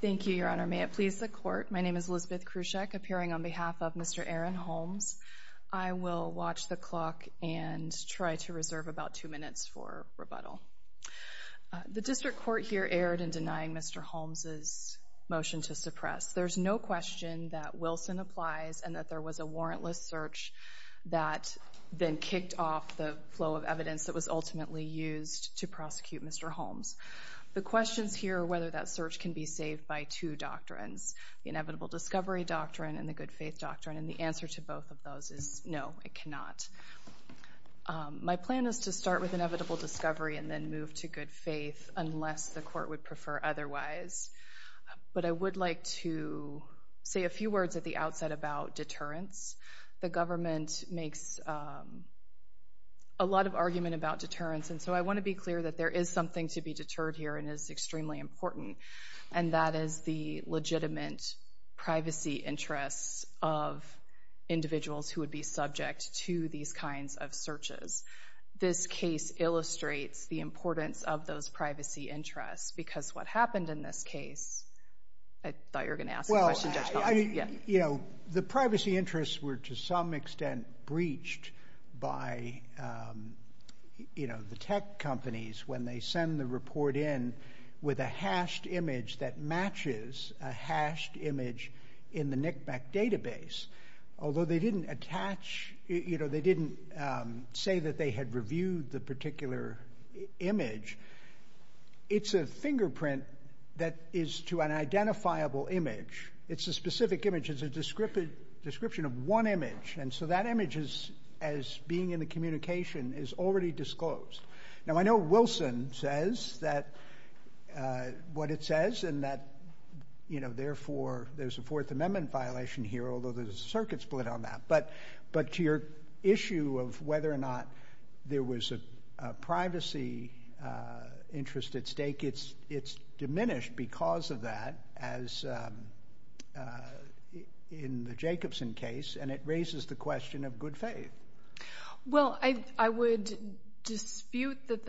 Thank you, Your Honor. May it please the Court, my name is Elizabeth Krusek appearing on behalf of Mr. Aaron Holmes. I will watch the clock and try to reserve about two minutes for rebuttal. The District Court here erred in denying Mr. Holmes's motion to suppress. There's no question that Wilson applies and that there was a warrantless search that then kicked off the flow of evidence that was can be saved by two doctrines, the inevitable discovery doctrine and the good faith doctrine, and the answer to both of those is no, it cannot. My plan is to start with inevitable discovery and then move to good faith unless the Court would prefer otherwise, but I would like to say a few words at the outset about deterrence. The government makes a lot of argument about deterrence and so I want to be clear that there is something to be deterred here and is extremely important and that is the legitimate privacy interests of individuals who would be subject to these kinds of searches. This case illustrates the importance of those privacy interests because what happened in this case, I thought you were going to ask the question, Judge Collins. Well, you know, the privacy interests were to some extent breached by, you know, the tech companies when they send the report in with a hashed image that matches a hashed image in the NCMEC database. Although they didn't attach, you know, they didn't say that they had reviewed the particular image, it's a fingerprint that is to an identifiable image. It's a specific image. It's a description of one image and so that image is, as being in the communication, is already disclosed. Now I know Wilson says that, what it says and that, you know, therefore there's a Fourth Amendment violation here, although there's a circuit split on that, but to your issue of whether or not there was a privacy interest at stake, it's diminished because of that as in the Jacobson case and it raises the question of whether or not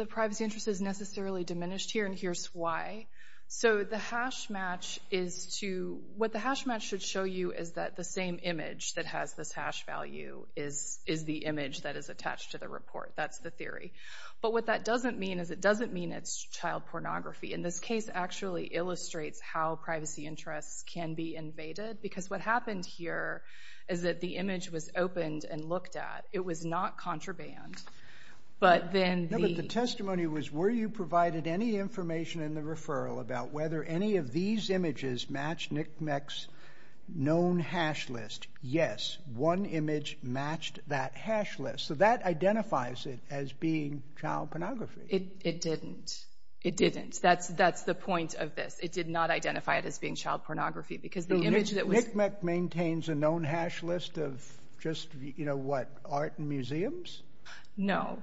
privacy interests can be necessarily diminished here and here's why. So the hash match is to, what the hash match should show you is that the same image that has this hash value is the image that is attached to the report. That's the theory. But what that doesn't mean is it doesn't mean it's child pornography. In this case actually illustrates how privacy interests can be invaded because what happened here is that the image was opened and looked at. It was not contraband, but then the— You provided any information in the referral about whether any of these images match NCMEC's known hash list. Yes, one image matched that hash list. So that identifies it as being child pornography. It didn't. It didn't. That's the point of this. It did not identify it as being child pornography because the image that was— NCMEC maintains a known hash list of just, you know, what, art and museums? No.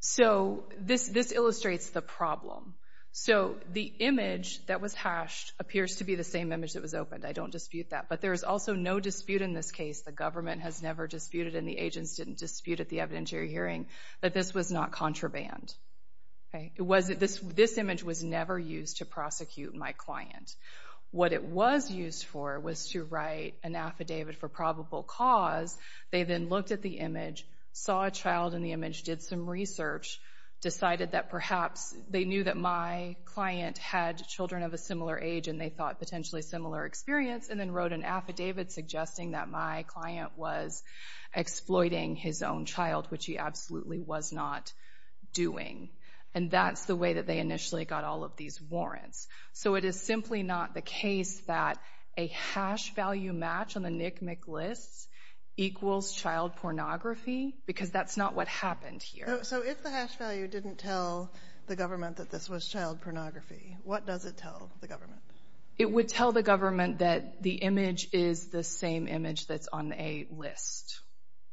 So this illustrates the problem. So the image that was hashed appears to be the same image that was opened. I don't dispute that, but there is also no dispute in this case. The government has never disputed and the agents didn't dispute at the evidentiary hearing that this was not contraband. This image was never used to prosecute my client. What it was used for was to write an affidavit for probable cause. They then looked at the image, saw a child in the image, did some research, decided that perhaps they knew that my client had children of a similar age and they thought potentially similar experience, and then wrote an affidavit suggesting that my client was exploiting his own child, which he absolutely was not doing. And that's the way that they initially got all of these warrants. So it is simply not the case that a hash value match on the NCMEC lists equals child pornography because that's not what happened here. So if the hash value didn't tell the government that this was child pornography, what does it tell the government? It would tell the government that the image is the same image that's on a list.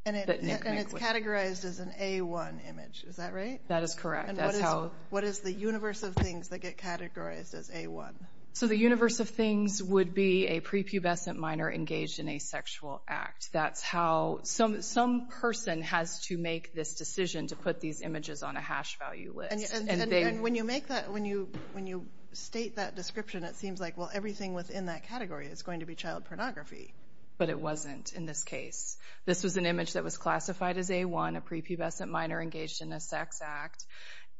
And it's categorized as an A1 image. Is that right? That is correct. And what is the universe of things that get categorized as A1? So the universe of things would be a prepubescent minor engaged in a sexual act. That's how—some person has to make this decision to put these images on a hash value list. And when you make that—when you state that description, it seems like, well, everything within that category is going to be child pornography. But it wasn't in this case. This was an image that was classified as A1, a prepubescent minor engaged in a sex act,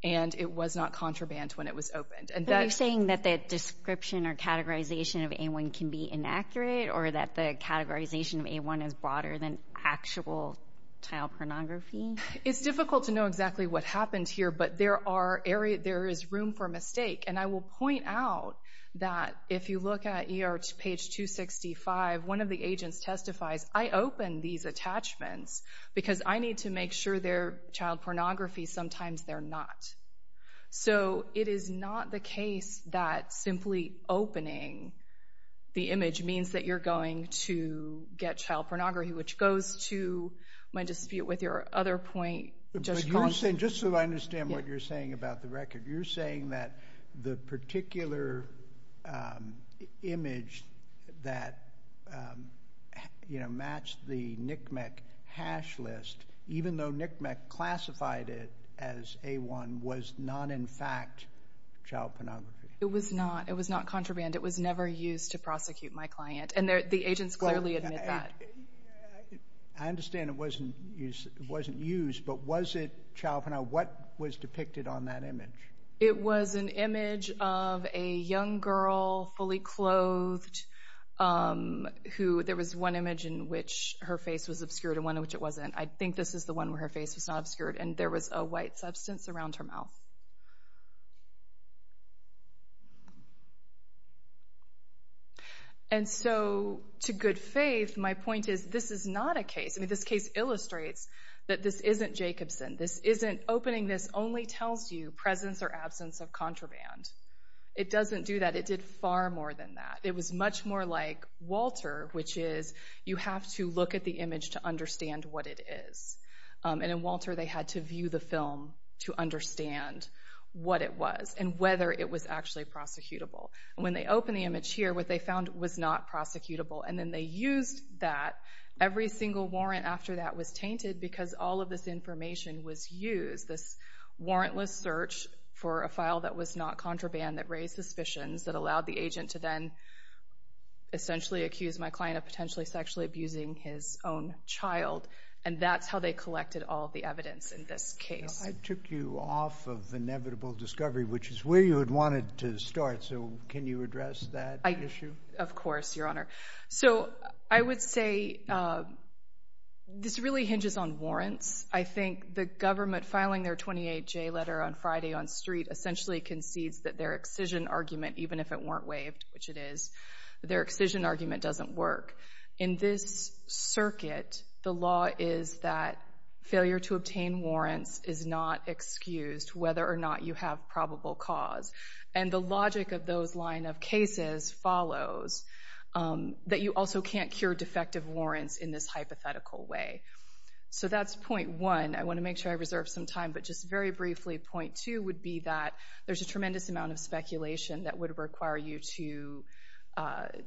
and it was not contraband when it was opened. Are you saying that the description or categorization of A1 can be inaccurate or that the categorization of A1 is broader than actual child pornography? It's difficult to know exactly what happened here, but there are areas—there is room for mistake. And I will point out that if you look at ER page 265, one of the agents testifies, I opened these attachments because I need to make sure they're child pornography. Sometimes they're not. So it is not the case that simply opening the image means that you're going to get child pornography, which goes to my dispute with your other point. Just so I understand what you're saying about the record. You're saying that the particular image that matched the NCMEC hash list, even though NCMEC classified it as A1, was not in fact child pornography. It was not. It was not contraband. It was never used to prosecute my client, and the agents clearly admit that. I understand it wasn't used, but was it child pornography? What was depicted on that image? It was an image of a young girl, fully clothed. There was one image in which her face was obscured and one in which it wasn't. I think this is the one where her face was not obscured, and there was a white substance around her mouth. And so, to good faith, my point is this is not a case. This case illustrates that this isn't Jacobson. Opening this only tells you presence or absence of contraband. It doesn't do that. It did far more than that. It was much more like Walter, which is you have to look at the image to understand what it is. In Walter, they had to view the film to understand what it was and whether it was actually prosecutable. When they opened the image here, what they found was not prosecutable, and then they used that. Every single warrant after that was tainted because all of this information was used, this warrantless search for a file that was not contraband that raised suspicions, that allowed the agent to then essentially accuse my client of potentially sexually abusing his own child. And that's how they collected all of the evidence in this case. I took you off of inevitable discovery, which is where you had wanted to start, so can you address that issue? Of course, Your Honor. So, I would say this really hinges on warrants. I think the government filing their 28-J letter on Friday on the street essentially concedes that their excision argument, even if it weren't waived, which it is, their excision argument doesn't work. In this circuit, the law is that failure to obtain warrants is not excused, whether or not you have probable cause. And the logic of those line of cases follows that you also can't cure defective warrants in this hypothetical way. So, that's point one. I want to make sure I reserve some time, but just very briefly, point two would be that there's a tremendous amount of speculation that would require you to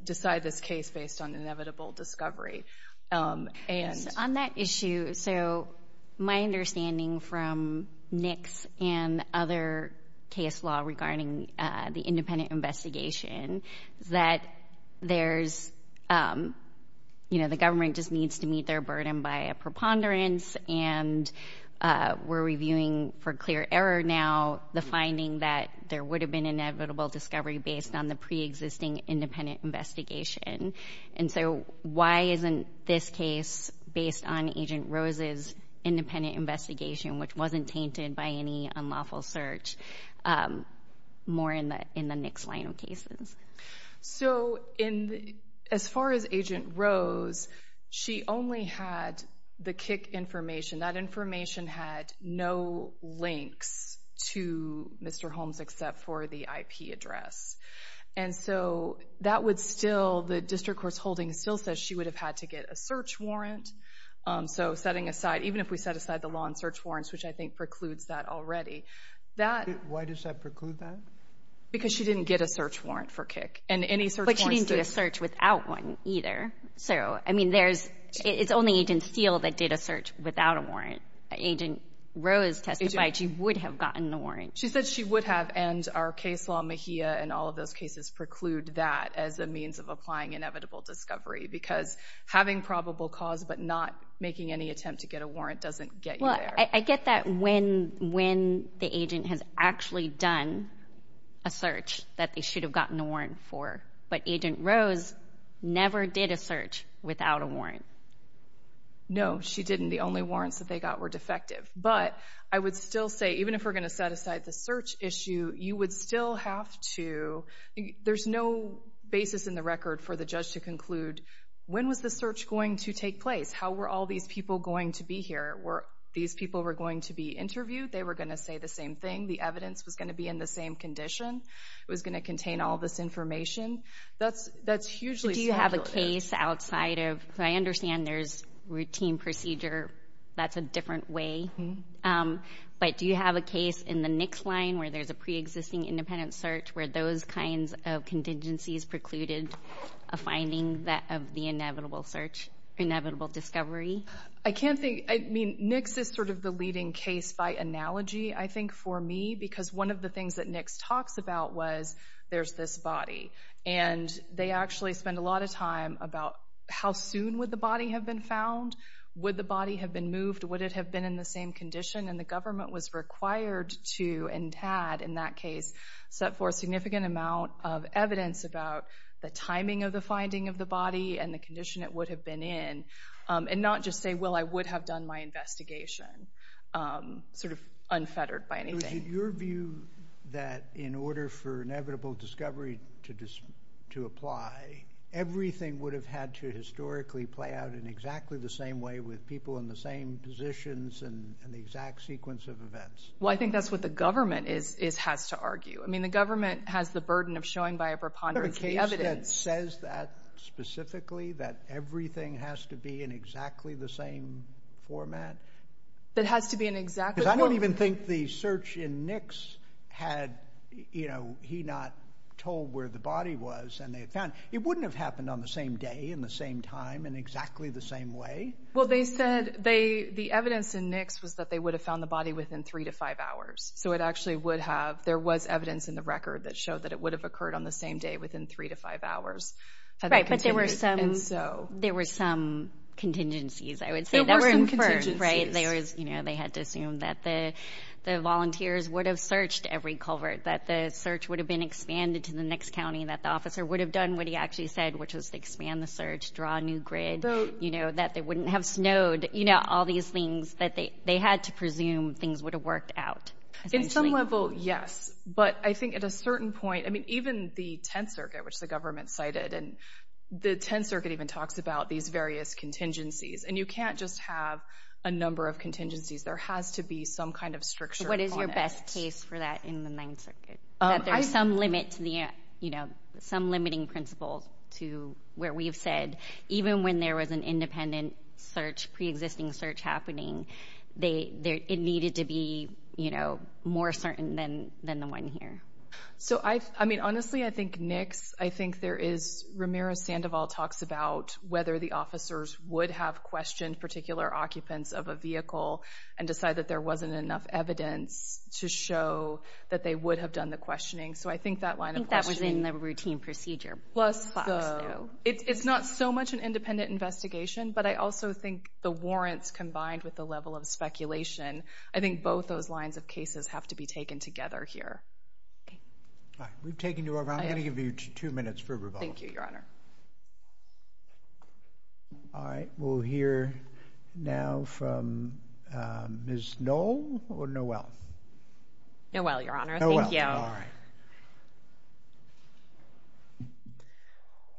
decide this case based on inevitable discovery. On that issue, so my understanding from Nick's and other case law regarding the independent investigation is that there's, you know, the government just needs to meet their burden by a preponderance, and we're reviewing for clear error now the finding that there would have been inevitable discovery based on the preexisting independent investigation. And so, why isn't this case based on Agent Rose's independent investigation, which wasn't tainted by any unlawful search, more in the Nick's line of cases? So, as far as Agent Rose, she only had the kick information. That information had no links to Mr. Holmes except for the IP address. And so, that would still, the district court's holding still says she would have had to get a search warrant. So, setting aside, even if we set aside the law on search warrants, which I think precludes that already. Why does that preclude that? Because she didn't get a search warrant for kick. But she didn't do a search without one either. So, I mean, there's, it's only Agent Steele that did a search without a warrant. Agent Rose testified she would have gotten the warrant. She said she would have, and our case law, MHIA, and all of those cases preclude that as a means of applying inevitable discovery. Because having probable cause but not making any attempt to get a warrant doesn't get you there. Well, I get that when the agent has actually done a search that they should have gotten a warrant for. But Agent Rose never did a search without a warrant. No, she didn't. The only warrants that they got were defective. But I would still say, even if we're going to set aside the search issue, you would still have to, there's no basis in the record for the judge to conclude, when was the search going to take place? How were all these people going to be here? Were these people going to be interviewed? They were going to say the same thing. The evidence was going to be in the same condition. It was going to contain all this information. That's hugely speculative. Do you have a case outside of, I understand there's routine procedure, that's a different way. But do you have a case in the NICS line where there's a preexisting independent search where those kinds of contingencies precluded a finding of the inevitable search, inevitable discovery? I can't think, I mean, NICS is sort of the leading case by analogy, I think, for me. Because one of the things that NICS talks about was there's this body. And they actually spend a lot of time about how soon would the body have been found? Would the body have been moved? Would it have been in the same condition? And the government was required to, and had in that case, set forth significant amount of evidence about the timing of the finding of the body and the condition it would have been in. And not just say, well, I would have done my investigation, sort of unfettered by anything. So is it your view that in order for inevitable discovery to apply, everything would have had to historically play out in exactly the same way with people in the same positions and the exact sequence of events? Well, I think that's what the government has to argue. I mean, the government has the burden of showing by a preponderance the evidence. Is there a case that says that specifically, that everything has to be in exactly the same format? Because I don't even think the search in NICS had, you know, he not told where the body was and they had found it. It wouldn't have happened on the same day, in the same time, in exactly the same way. Well, they said the evidence in NICS was that they would have found the body within three to five hours. So it actually would have, there was evidence in the record that showed that it would have occurred on the same day within three to five hours. Right, but there were some contingencies, I would say. There were some contingencies. Right, they had to assume that the volunteers would have searched every culvert, that the search would have been expanded to the next county, that the officer would have done what he actually said, which was to expand the search, draw a new grid, you know, that it wouldn't have snowed. You know, all these things that they had to presume things would have worked out. In some level, yes, but I think at a certain point, I mean, even the Tenth Circuit, which the government cited, and the Tenth Circuit even talks about these various contingencies, and you can't just have a number of contingencies. There has to be some kind of stricture on it. What is your best case for that in the Ninth Circuit? That there's some limit to the, you know, some limiting principle to where we've said, even when there was an independent search, pre-existing search happening, it needed to be, you know, more certain than the one here. So, I mean, honestly, I think NICS, I think there is, Ramirez-Sandoval talks about whether the officers would have questioned particular occupants of a vehicle and decide that there wasn't enough evidence to show that they would have done the questioning. So, I think that line of questioning. I think that was in the routine procedure. Plus, though, it's not so much an independent investigation, but I also think the warrants combined with the level of speculation, I think both those lines of cases have to be taken together here. We've taken you over. I'm going to give you two minutes for rebuttal. Thank you, Your Honor. All right. We'll hear now from Ms. Noel or Noel? Noel, Your Honor. Noel. All right.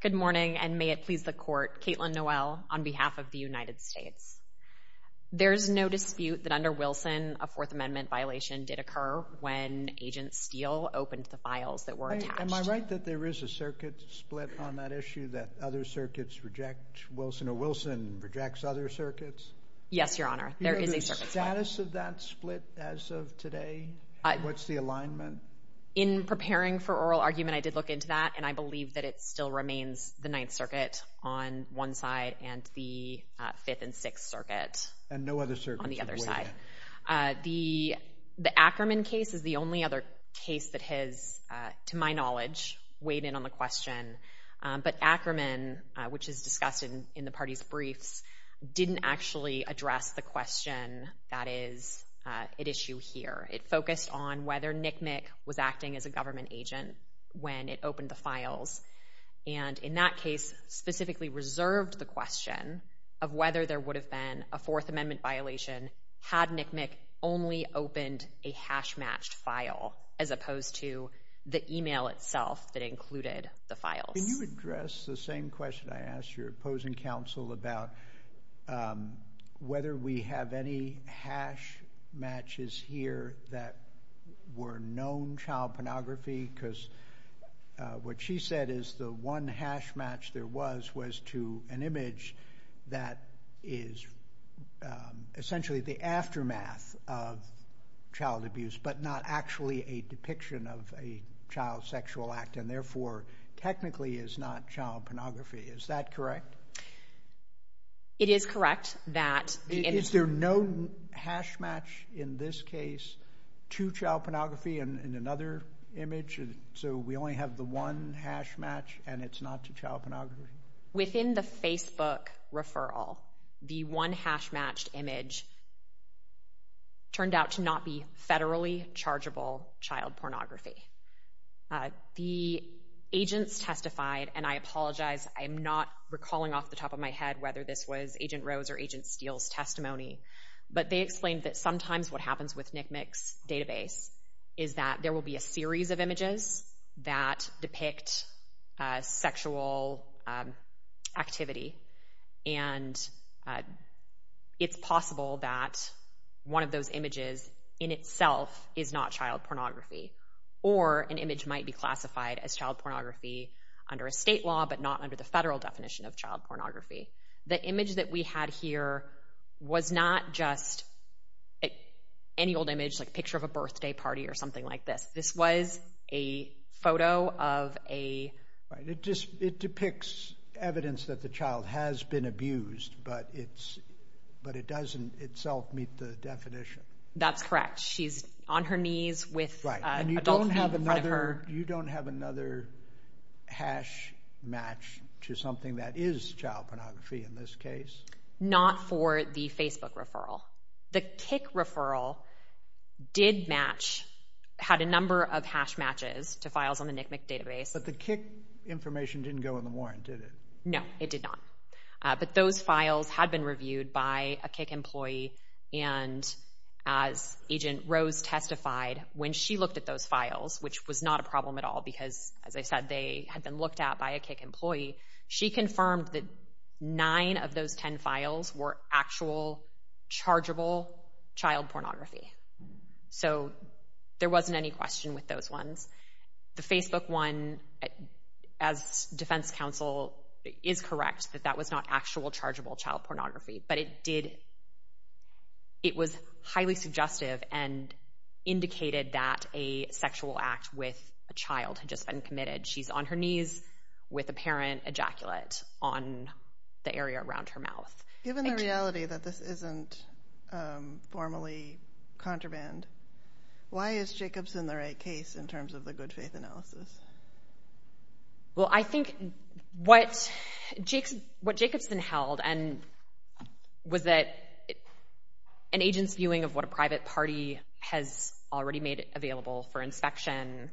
Good morning and may it please the Court. Caitlin Noel on behalf of the United States. There's no dispute that under Wilson, a Fourth Amendment violation did occur when Agent Steele opened the files that were attached. Am I right that there is a circuit split on that issue that other circuits reject? Wilson or Wilson rejects other circuits? Yes, Your Honor. There is a circuit split. Do you know the status of that split as of today? What's the alignment? In preparing for oral argument, I did look into that, and I believe that it still remains the Ninth Circuit on one side and the Fifth and Sixth Circuit on the other side. And no other circuits have waived it? The Ackerman case is the only other case that has, to my knowledge, weighed in on the question. But Ackerman, which is discussed in the party's briefs, didn't actually address the question that is at issue here. It focused on whether NCMEC was acting as a government agent when it opened the files, and in that case specifically reserved the question of whether there would have been a Fourth Amendment violation had NCMEC only opened a hash-matched file as opposed to the email itself that included the files. Can you address the same question I asked your opposing counsel about whether we have any hash-matches here that were known child pornography? Because what she said is the one hash-match there was was to an image that is essentially the aftermath of child abuse but not actually a depiction of a child sexual act and therefore technically is not child pornography. Is that correct? It is correct that the image... Is there no hash-match in this case to child pornography in another image? So we only have the one hash-match and it's not to child pornography? Within the Facebook referral, the one hash-matched image turned out to not be federally chargeable child pornography. The agents testified, and I apologize, I'm not recalling off the top of my head whether this was Agent Rose or Agent Steele's testimony, but they explained that sometimes what happens with NCMEC's database is that there will be a series of images that depict sexual activity and it's possible that one of those images in itself is not child pornography or an image might be classified as child pornography under a state law but not under the federal definition of child pornography. The image that we had here was not just any old image, like a picture of a birthday party or something like this. This was a photo of a... It depicts evidence that the child has been abused but it doesn't itself meet the definition. That's correct. She's on her knees with adults in front of her. You don't have another hash-match to something that is child pornography in this case? Not for the Facebook referral. The CIC referral did match, had a number of hash-matches to files on the NCMEC database. But the CIC information didn't go in the warrant, did it? No, it did not. But those files had been reviewed by a CIC employee and as Agent Rose testified, when she looked at those files, which was not a problem at all because, as I said, they had been looked at by a CIC employee, she confirmed that nine of those ten files were actual, chargeable child pornography. So there wasn't any question with those ones. The Facebook one, as Defense Counsel is correct, that that was not actual, chargeable child pornography. But it did... It was highly suggestive and indicated that a sexual act with a child had just been committed. She's on her knees with apparent ejaculate on the area around her mouth. Given the reality that this isn't formally contraband, why is Jacobson the right case in terms of the good faith analysis? Well, I think what Jacobson held was that an agent's viewing of what a private party has already made available for inspection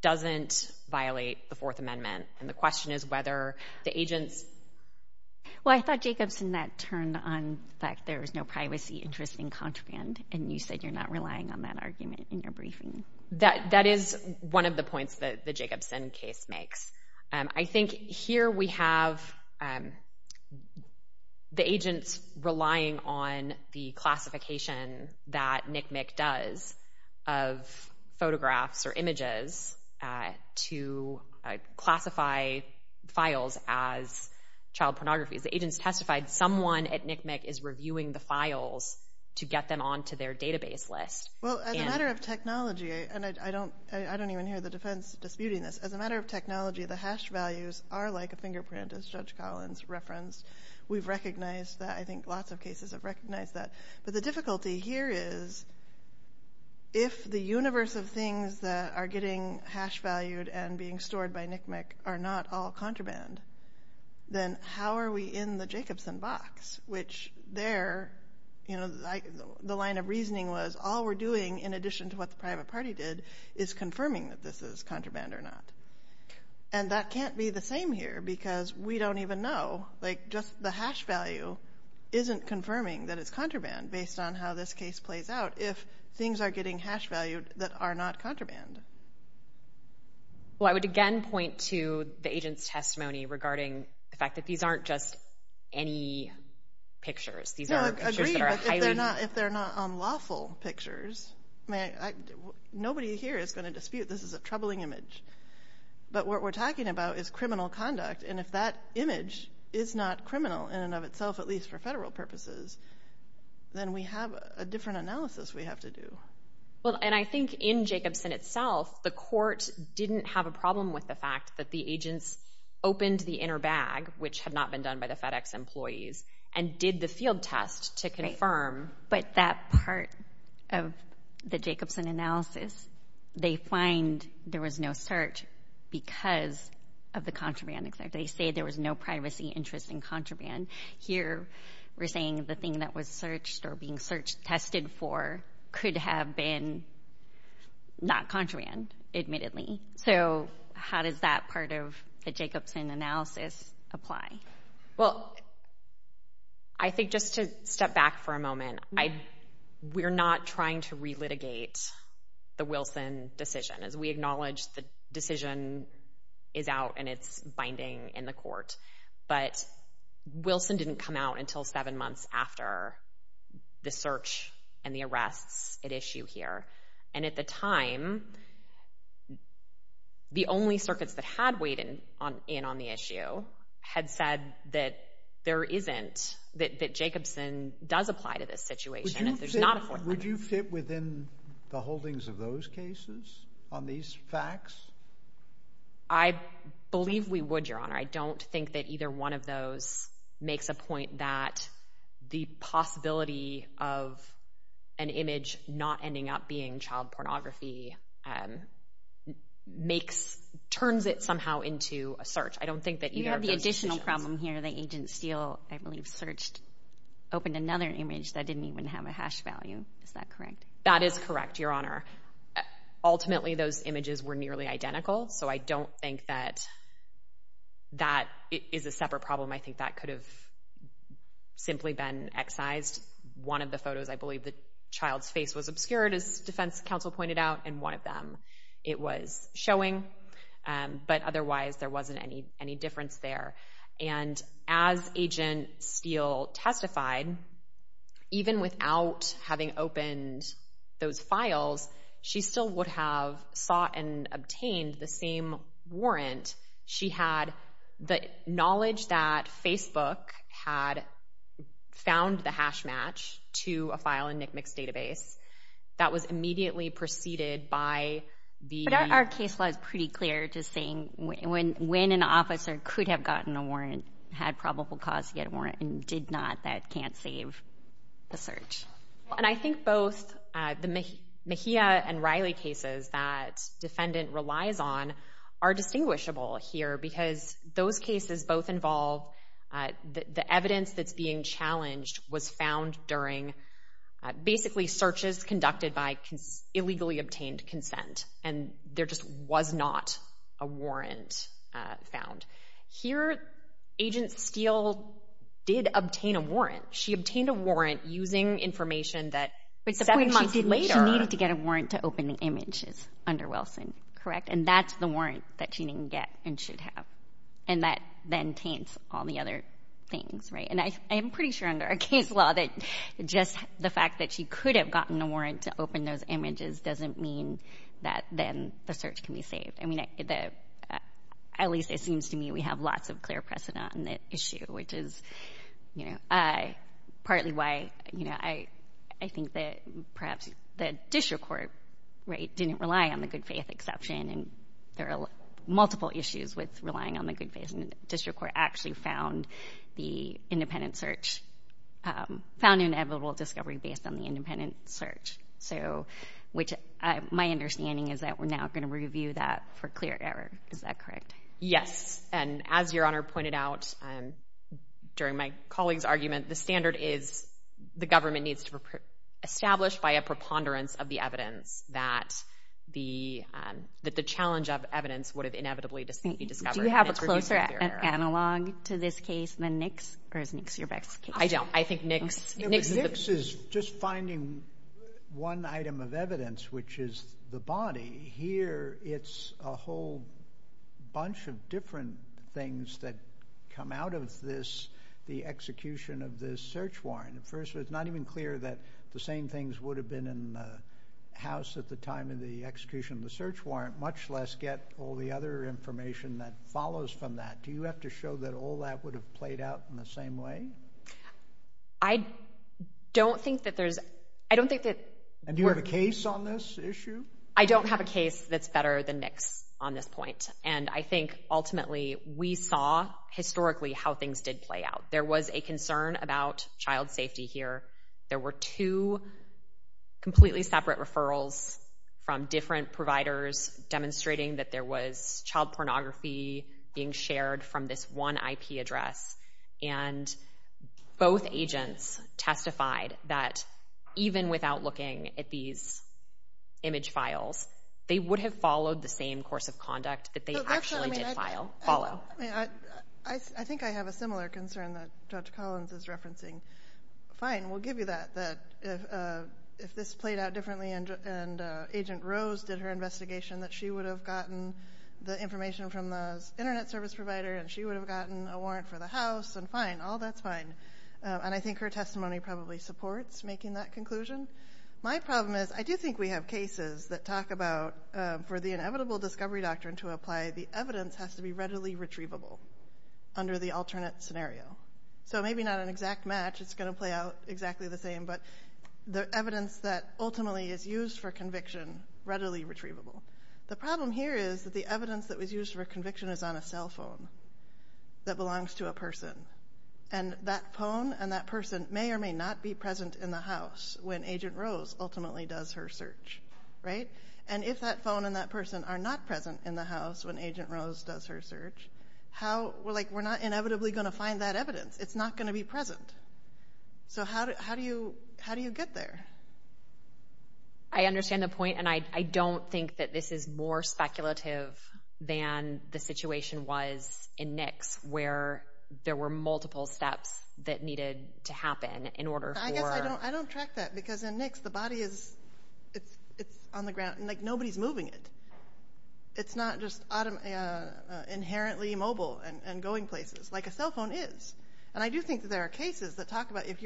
doesn't violate the Fourth Amendment. And the question is whether the agents... Well, I thought Jacobson that turned on the fact there was no privacy interest in contraband and you said you're not relying on that argument in your briefing. That is one of the points that the Jacobson case makes. I think here we have the agents relying on the classification that NCMEC does of photographs or images to classify files as child pornography. The agents testified someone at NCMEC is reviewing the files to get them onto their database list. Well, as a matter of technology, and I don't even hear the defense disputing this, as a matter of technology, the hash values are like a fingerprint, as Judge Collins referenced. We've recognized that. I think lots of cases have recognized that. But the difficulty here is if the universe of things that are getting hash valued and being stored by NCMEC are not all contraband, then how are we in the Jacobson box? Which there, the line of reasoning was all we're doing, in addition to what the private party did, is confirming that this is contraband or not. And that can't be the same here because we don't even know. Like just the hash value isn't confirming that it's contraband based on how this case plays out if things are getting hash valued that are not contraband. Well, I would again point to the agent's testimony regarding the fact that these aren't just any pictures. These are pictures that are highly- No, agreed, but if they're not unlawful pictures, nobody here is going to dispute this is a troubling image. But what we're talking about is criminal conduct, and if that image is not criminal in and of itself, at least for federal purposes, then we have a different analysis we have to do. Well, and I think in Jacobson itself, the court didn't have a problem with the fact that the agents opened the inner bag, which had not been done by the FedEx employees, and did the field test to confirm. But that part of the Jacobson analysis, they find there was no search because of the contraband. They say there was no privacy interest in contraband. Here we're saying the thing that was searched or being searched, tested for, could have been not contraband, admittedly. So how does that part of the Jacobson analysis apply? Well, I think just to step back for a moment, we're not trying to relitigate the Wilson decision, as we acknowledge the decision is out and it's binding in the court. But Wilson didn't come out until seven months after the search and the arrests at issue here. And at the time, the only circuits that had weighed in on the issue had said that there isn't, that Jacobson does apply to this situation. Would you fit within the holdings of those cases on these facts? I believe we would, Your Honor. I don't think that either one of those makes a point that the possibility of an image not ending up being child pornography makes, turns it somehow into a search. I don't think that either of those decisions— You have the additional problem here. The agent Steele, I believe, searched, opened another image that didn't even have a hash value. Is that correct? That is correct, Your Honor. Ultimately, those images were nearly identical, so I don't think that that is a separate problem. I think that could have simply been excised. One of the photos, I believe, the child's face was obscured, as defense counsel pointed out, and one of them it was showing. But otherwise, there wasn't any difference there. And as agent Steele testified, even without having opened those files, she still would have sought and obtained the same warrant. She had the knowledge that Facebook had found the hash match to a file in NCMEC's database. That was immediately preceded by the— But our case law is pretty clear to saying when an officer could have gotten a warrant, had probable cause to get a warrant, and did not, that can't save the search. And I think both the Mejia and Riley cases that defendant relies on are distinguishable here because those cases both involve the evidence that's being challenged was found during, basically, searches conducted by illegally obtained consent, and there just was not a warrant found. Here, agent Steele did obtain a warrant. She obtained a warrant using information that seven months later— But she needed to get a warrant to open the images under Wilson, correct? And that's the warrant that she didn't get and should have. And that then taints all the other things, right? And I'm pretty sure under our case law that just the fact that she could have gotten a warrant to open those images doesn't mean that then the search can be saved. I mean, at least it seems to me we have lots of clear precedent on the issue, which is partly why I think that perhaps the district court didn't rely on a good faith exception, and there are multiple issues with relying on the good faith. And the district court actually found the independent search— found an inevitable discovery based on the independent search, which my understanding is that we're now going to review that for clear error. Is that correct? Yes. And as Your Honor pointed out during my colleague's argument, the standard is the government needs to establish by a preponderance of the evidence that the challenge of evidence would have inevitably been discovered. Do you have a closer analog to this case than Nix, or is Nix your best case? I don't. I think Nix— Nix is just finding one item of evidence, which is the body. Here it's a whole bunch of different things that come out of this, the execution of this search warrant. First, it's not even clear that the same things would have been in the house at the time of the execution of the search warrant, much less get all the other information that follows from that. Do you have to show that all that would have played out in the same way? I don't think that there's—I don't think that— And do you have a case on this issue? I don't have a case that's better than Nix on this point, and I think ultimately we saw historically how things did play out. There was a concern about child safety here. There were two completely separate referrals from different providers demonstrating that there was child pornography being shared from this one IP address, and both agents testified that even without looking at these image files, they would have followed the same course of conduct that they actually did follow. I think I have a similar concern that Judge Collins is referencing. Fine, we'll give you that. If this played out differently and Agent Rose did her investigation, that she would have gotten the information from the Internet service provider and she would have gotten a warrant for the house and fine, all that's fine. And I think her testimony probably supports making that conclusion. My problem is I do think we have cases that talk about for the inevitable discovery doctrine to apply, the evidence has to be readily retrievable under the alternate scenario. So maybe not an exact match, it's going to play out exactly the same, but the evidence that ultimately is used for conviction, readily retrievable. The problem here is that the evidence that was used for conviction is on a cell phone that belongs to a person, and that phone and that person may or may not be present in the house when Agent Rose ultimately does her search. And if that phone and that person are not present in the house when Agent Rose does her search, we're not inevitably going to find that evidence. It's not going to be present. So how do you get there? I understand the point, and I don't think that this is more speculative than the situation was in NICS, where there were multiple steps that needed to happen in order for... I guess I don't track that, because in NICS the body is on the ground, and nobody's moving it. It's not just inherently mobile and going places, like a cell phone is. And I do think that there are cases that talk about if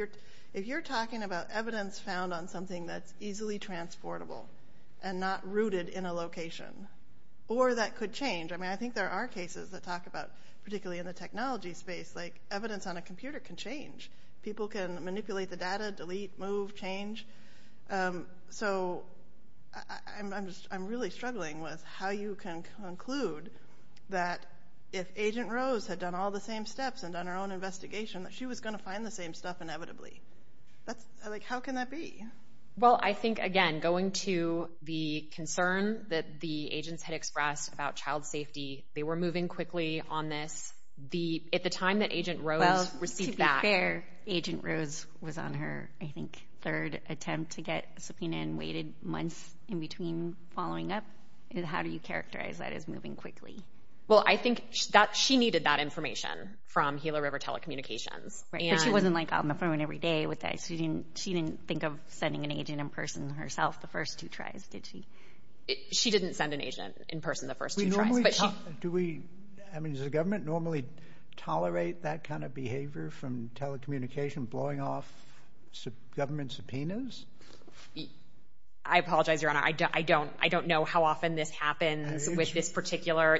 you're talking about evidence found on something that's easily transportable and not rooted in a location, or that could change. I mean, I think there are cases that talk about, particularly in the technology space, like evidence on a computer can change. People can manipulate the data, delete, move, change. So I'm really struggling with how you can conclude that if Agent Rose had done all the same steps and done her own investigation, that she was going to find the same stuff inevitably. How can that be? Well, I think, again, going to the concern that the agents had expressed about child safety, they were moving quickly on this. At the time that Agent Rose received back... Well, to be fair, Agent Rose was on her, I think, third attempt to get subpoena and waited months in between following up. How do you characterize that as moving quickly? Well, I think she needed that information from Gila River Telecommunications. But she wasn't on the phone every day with ICE. She didn't think of sending an agent in person herself the first two tries, did she? She didn't send an agent in person the first two tries. Does the government normally tolerate that kind of behavior from telecommunication blowing off government subpoenas? I apologize, Your Honor. I don't know how often this happens with this particular...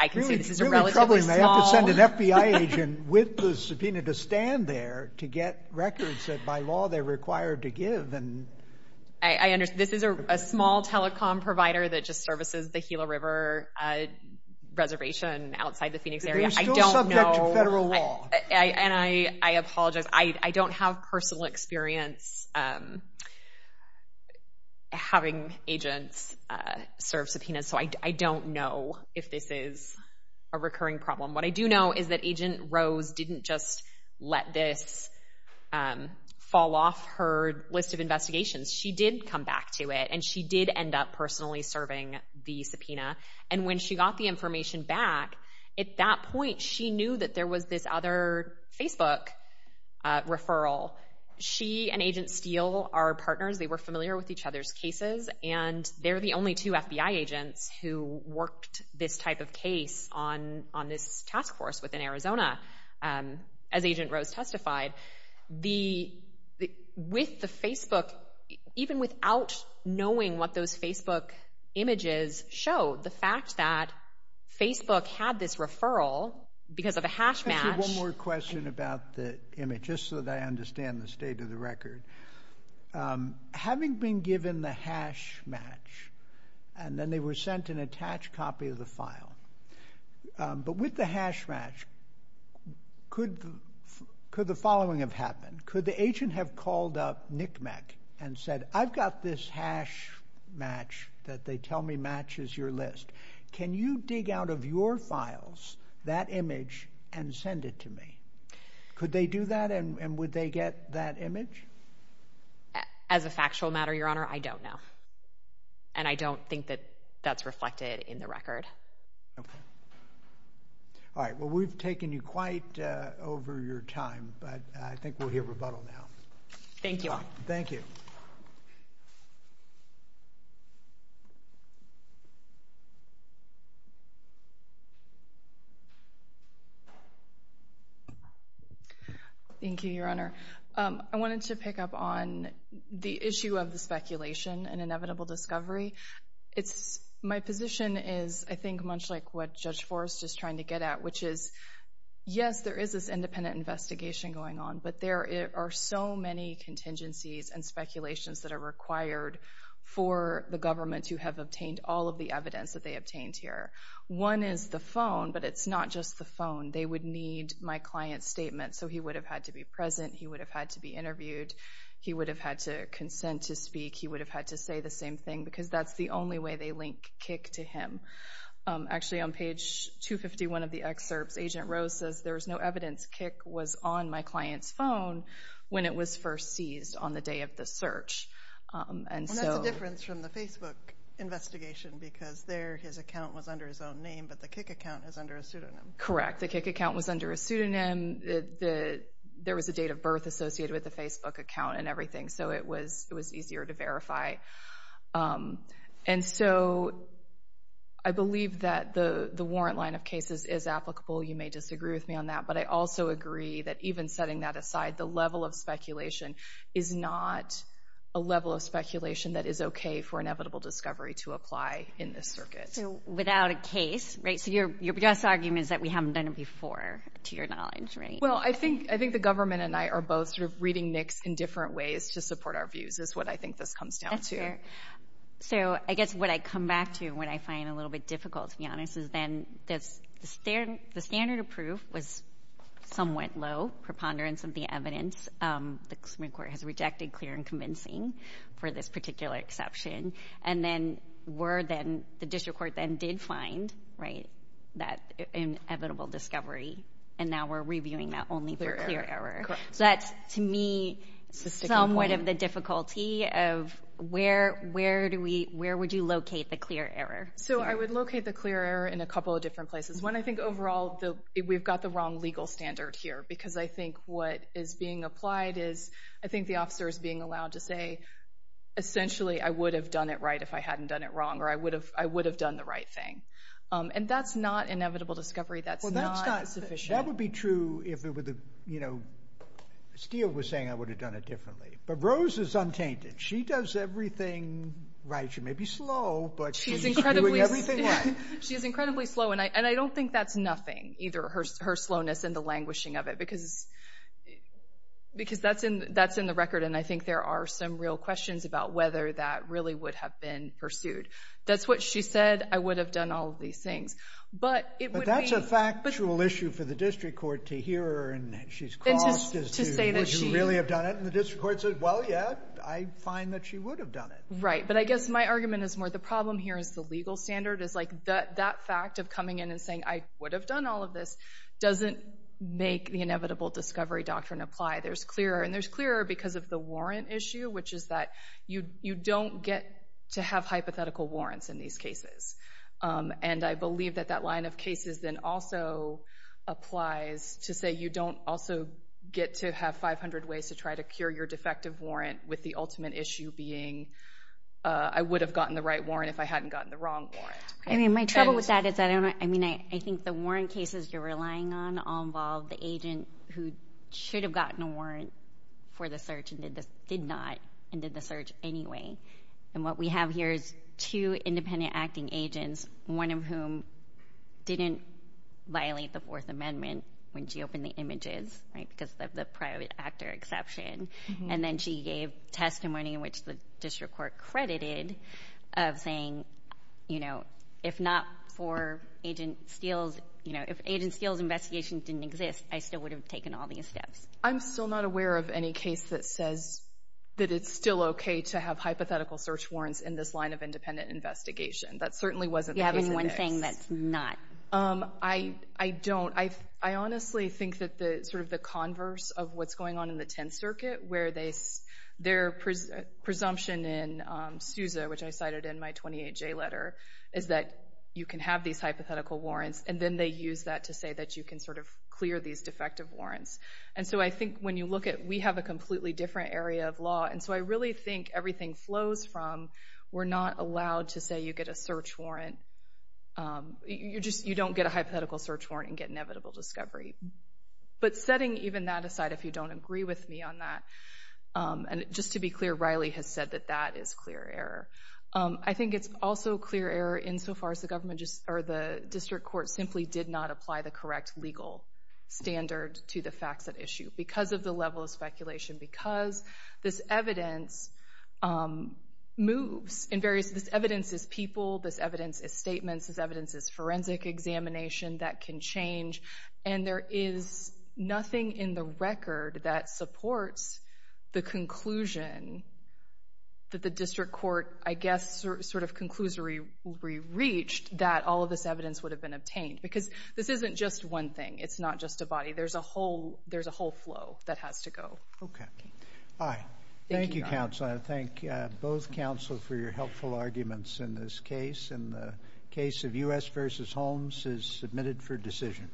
I can see this is a relatively small... It's really troubling. They have to send an FBI agent with the subpoena to stand there to get records that, by law, they're required to give. This is a small telecom provider that just services the Gila River reservation outside the Phoenix area. But they're still subject to federal law. And I apologize. I don't have personal experience having agents serve subpoenas, so I don't know if this is a recurring problem. What I do know is that Agent Rose didn't just let this fall off her list of investigations. She did come back to it, and she did end up personally serving the subpoena. And when she got the information back, at that point, she knew that there was this other Facebook referral. She and Agent Steele are partners. They were familiar with each other's cases, and they're the only two FBI agents who worked this type of case on this task force within Arizona. As Agent Rose testified, with the Facebook, even without knowing what those Facebook images showed, the fact that Facebook had this referral because of a hash match. Let me ask you one more question about the image, just so that I understand the state of the record. Having been given the hash match, and then they were sent an attached copy of the file, but with the hash match, could the following have happened? Could the agent have called up NCMEC and said, I've got this hash match that they tell me matches your list. Can you dig out of your files that image and send it to me? Could they do that, and would they get that image? As a factual matter, Your Honor, I don't know. And I don't think that that's reflected in the record. Okay. All right, well, we've taken you quite over your time, but I think we'll hear rebuttal now. Thank you all. Thank you. Thank you, Your Honor. I wanted to pick up on the issue of the speculation and inevitable discovery. My position is, I think, much like what Judge Forrest is trying to get at, which is, yes, there is this independent investigation going on, but there are so many contingencies and speculations that are required for the government to have obtained all of the evidence that they obtained here. One is the phone, but it's not just the phone. They would need my client's statement, so he would have had to be present, he would have had to be interviewed, he would have had to consent to speak, he would have had to say the same thing, because that's the only way they link Kik to him. Actually, on page 251 of the excerpts, Agent Rose says, there's no evidence Kik was on my client's phone when it was first seized on the day of the search. And that's a difference from the Facebook investigation, because there his account was under his own name, but the Kik account is under a pseudonym. Correct, the Kik account was under a pseudonym. There was a date of birth associated with the Facebook account and everything, so it was easier to verify. And so I believe that the warrant line of cases is applicable. You may disagree with me on that, but I also agree that even setting that aside, the level of speculation is not a level of speculation that is okay for inevitable discovery to apply in this circuit. So without a case, right? So your best argument is that we haven't done it before, to your knowledge, right? Well, I think the government and I are both sort of reading NICs in different ways to support our views is what I think this comes down to. That's fair. So I guess what I come back to and what I find a little bit difficult, to be honest, is then the standard of proof was somewhat low, preponderance of the evidence. The Supreme Court has rejected clear and convincing for this particular exception. And then the district court then did find, right, that inevitable discovery, and now we're reviewing that only for clear error. So that's, to me, somewhat of the difficulty of where would you locate the clear error? So I would locate the clear error in a couple of different places. One, I think overall we've got the wrong legal standard here because I think what is being applied is I think the officer is being allowed to say essentially I would have done it right if I hadn't done it wrong or I would have done the right thing. And that's not inevitable discovery. That's not sufficient. That would be true if it were the, you know, Steele was saying I would have done it differently. But Rose is untainted. She does everything right. She may be slow, but she's doing everything right. She's incredibly slow, and I don't think that's nothing, either her slowness and the languishing of it, because that's in the record, and I think there are some real questions about whether that really would have been pursued. That's what she said, I would have done all of these things. But it would be... But that's a factual issue for the district court to hear and she's crossed as to would she really have done it, and the district court said, well, yeah, I find that she would have done it. Right, but I guess my argument is more the problem here is the legal standard is like that fact of coming in and saying I would have done all of this doesn't make the inevitable discovery doctrine apply. There's clear error, and there's clear error because of the warrant issue, which is that you don't get to have hypothetical warrants in these cases, and I believe that that line of cases then also applies to say you don't also get to have 500 ways to try to cure your defective warrant with the ultimate issue being I would have gotten the right warrant if I hadn't gotten the wrong warrant. I mean, my trouble with that is I think the warrant cases you're relying on all involve the agent who should have gotten a warrant for the search and did not and did the search anyway, and what we have here is two independent acting agents, one of whom didn't violate the Fourth Amendment when she opened the images, right, because of the private actor exception, and then she gave testimony in which the district court credited of saying, you know, if not for Agent Steele's, you know, if Agent Steele's investigation didn't exist, I still would have taken all these steps. I'm still not aware of any case that says that it's still okay to have hypothetical search warrants in this line of independent investigation. That certainly wasn't the case in this. Do you have any one thing that's not? I don't. I honestly think that sort of the converse of what's going on in the Tenth Circuit where their presumption in SUSA, which I cited in my 28J letter, is that you can have these hypothetical warrants, and then they use that to say that you can sort of clear these defective warrants. And so I think when you look at, we have a completely different area of law, and so I really think everything flows from we're not allowed to say you get a search warrant. You don't get a hypothetical search warrant and get inevitable discovery. But setting even that aside, if you don't agree with me on that, and just to be clear, Riley has said that that is clear error. I think it's also clear error insofar as the government, or the district court simply did not apply the correct legal standard to the facts at issue because of the level of speculation, because this evidence moves in various, this evidence is people, this evidence is statements, this evidence is forensic examination that can change, and there is nothing in the record that supports the conclusion that the district court, I guess, sort of conclusory reached that all of this evidence would have been obtained. Because this isn't just one thing. It's not just a body. There's a whole flow that has to go. Okay. Thank you, Counsel. I thank both counsel for your helpful arguments in this case. And the case of U.S. v. Holmes is submitted for decision.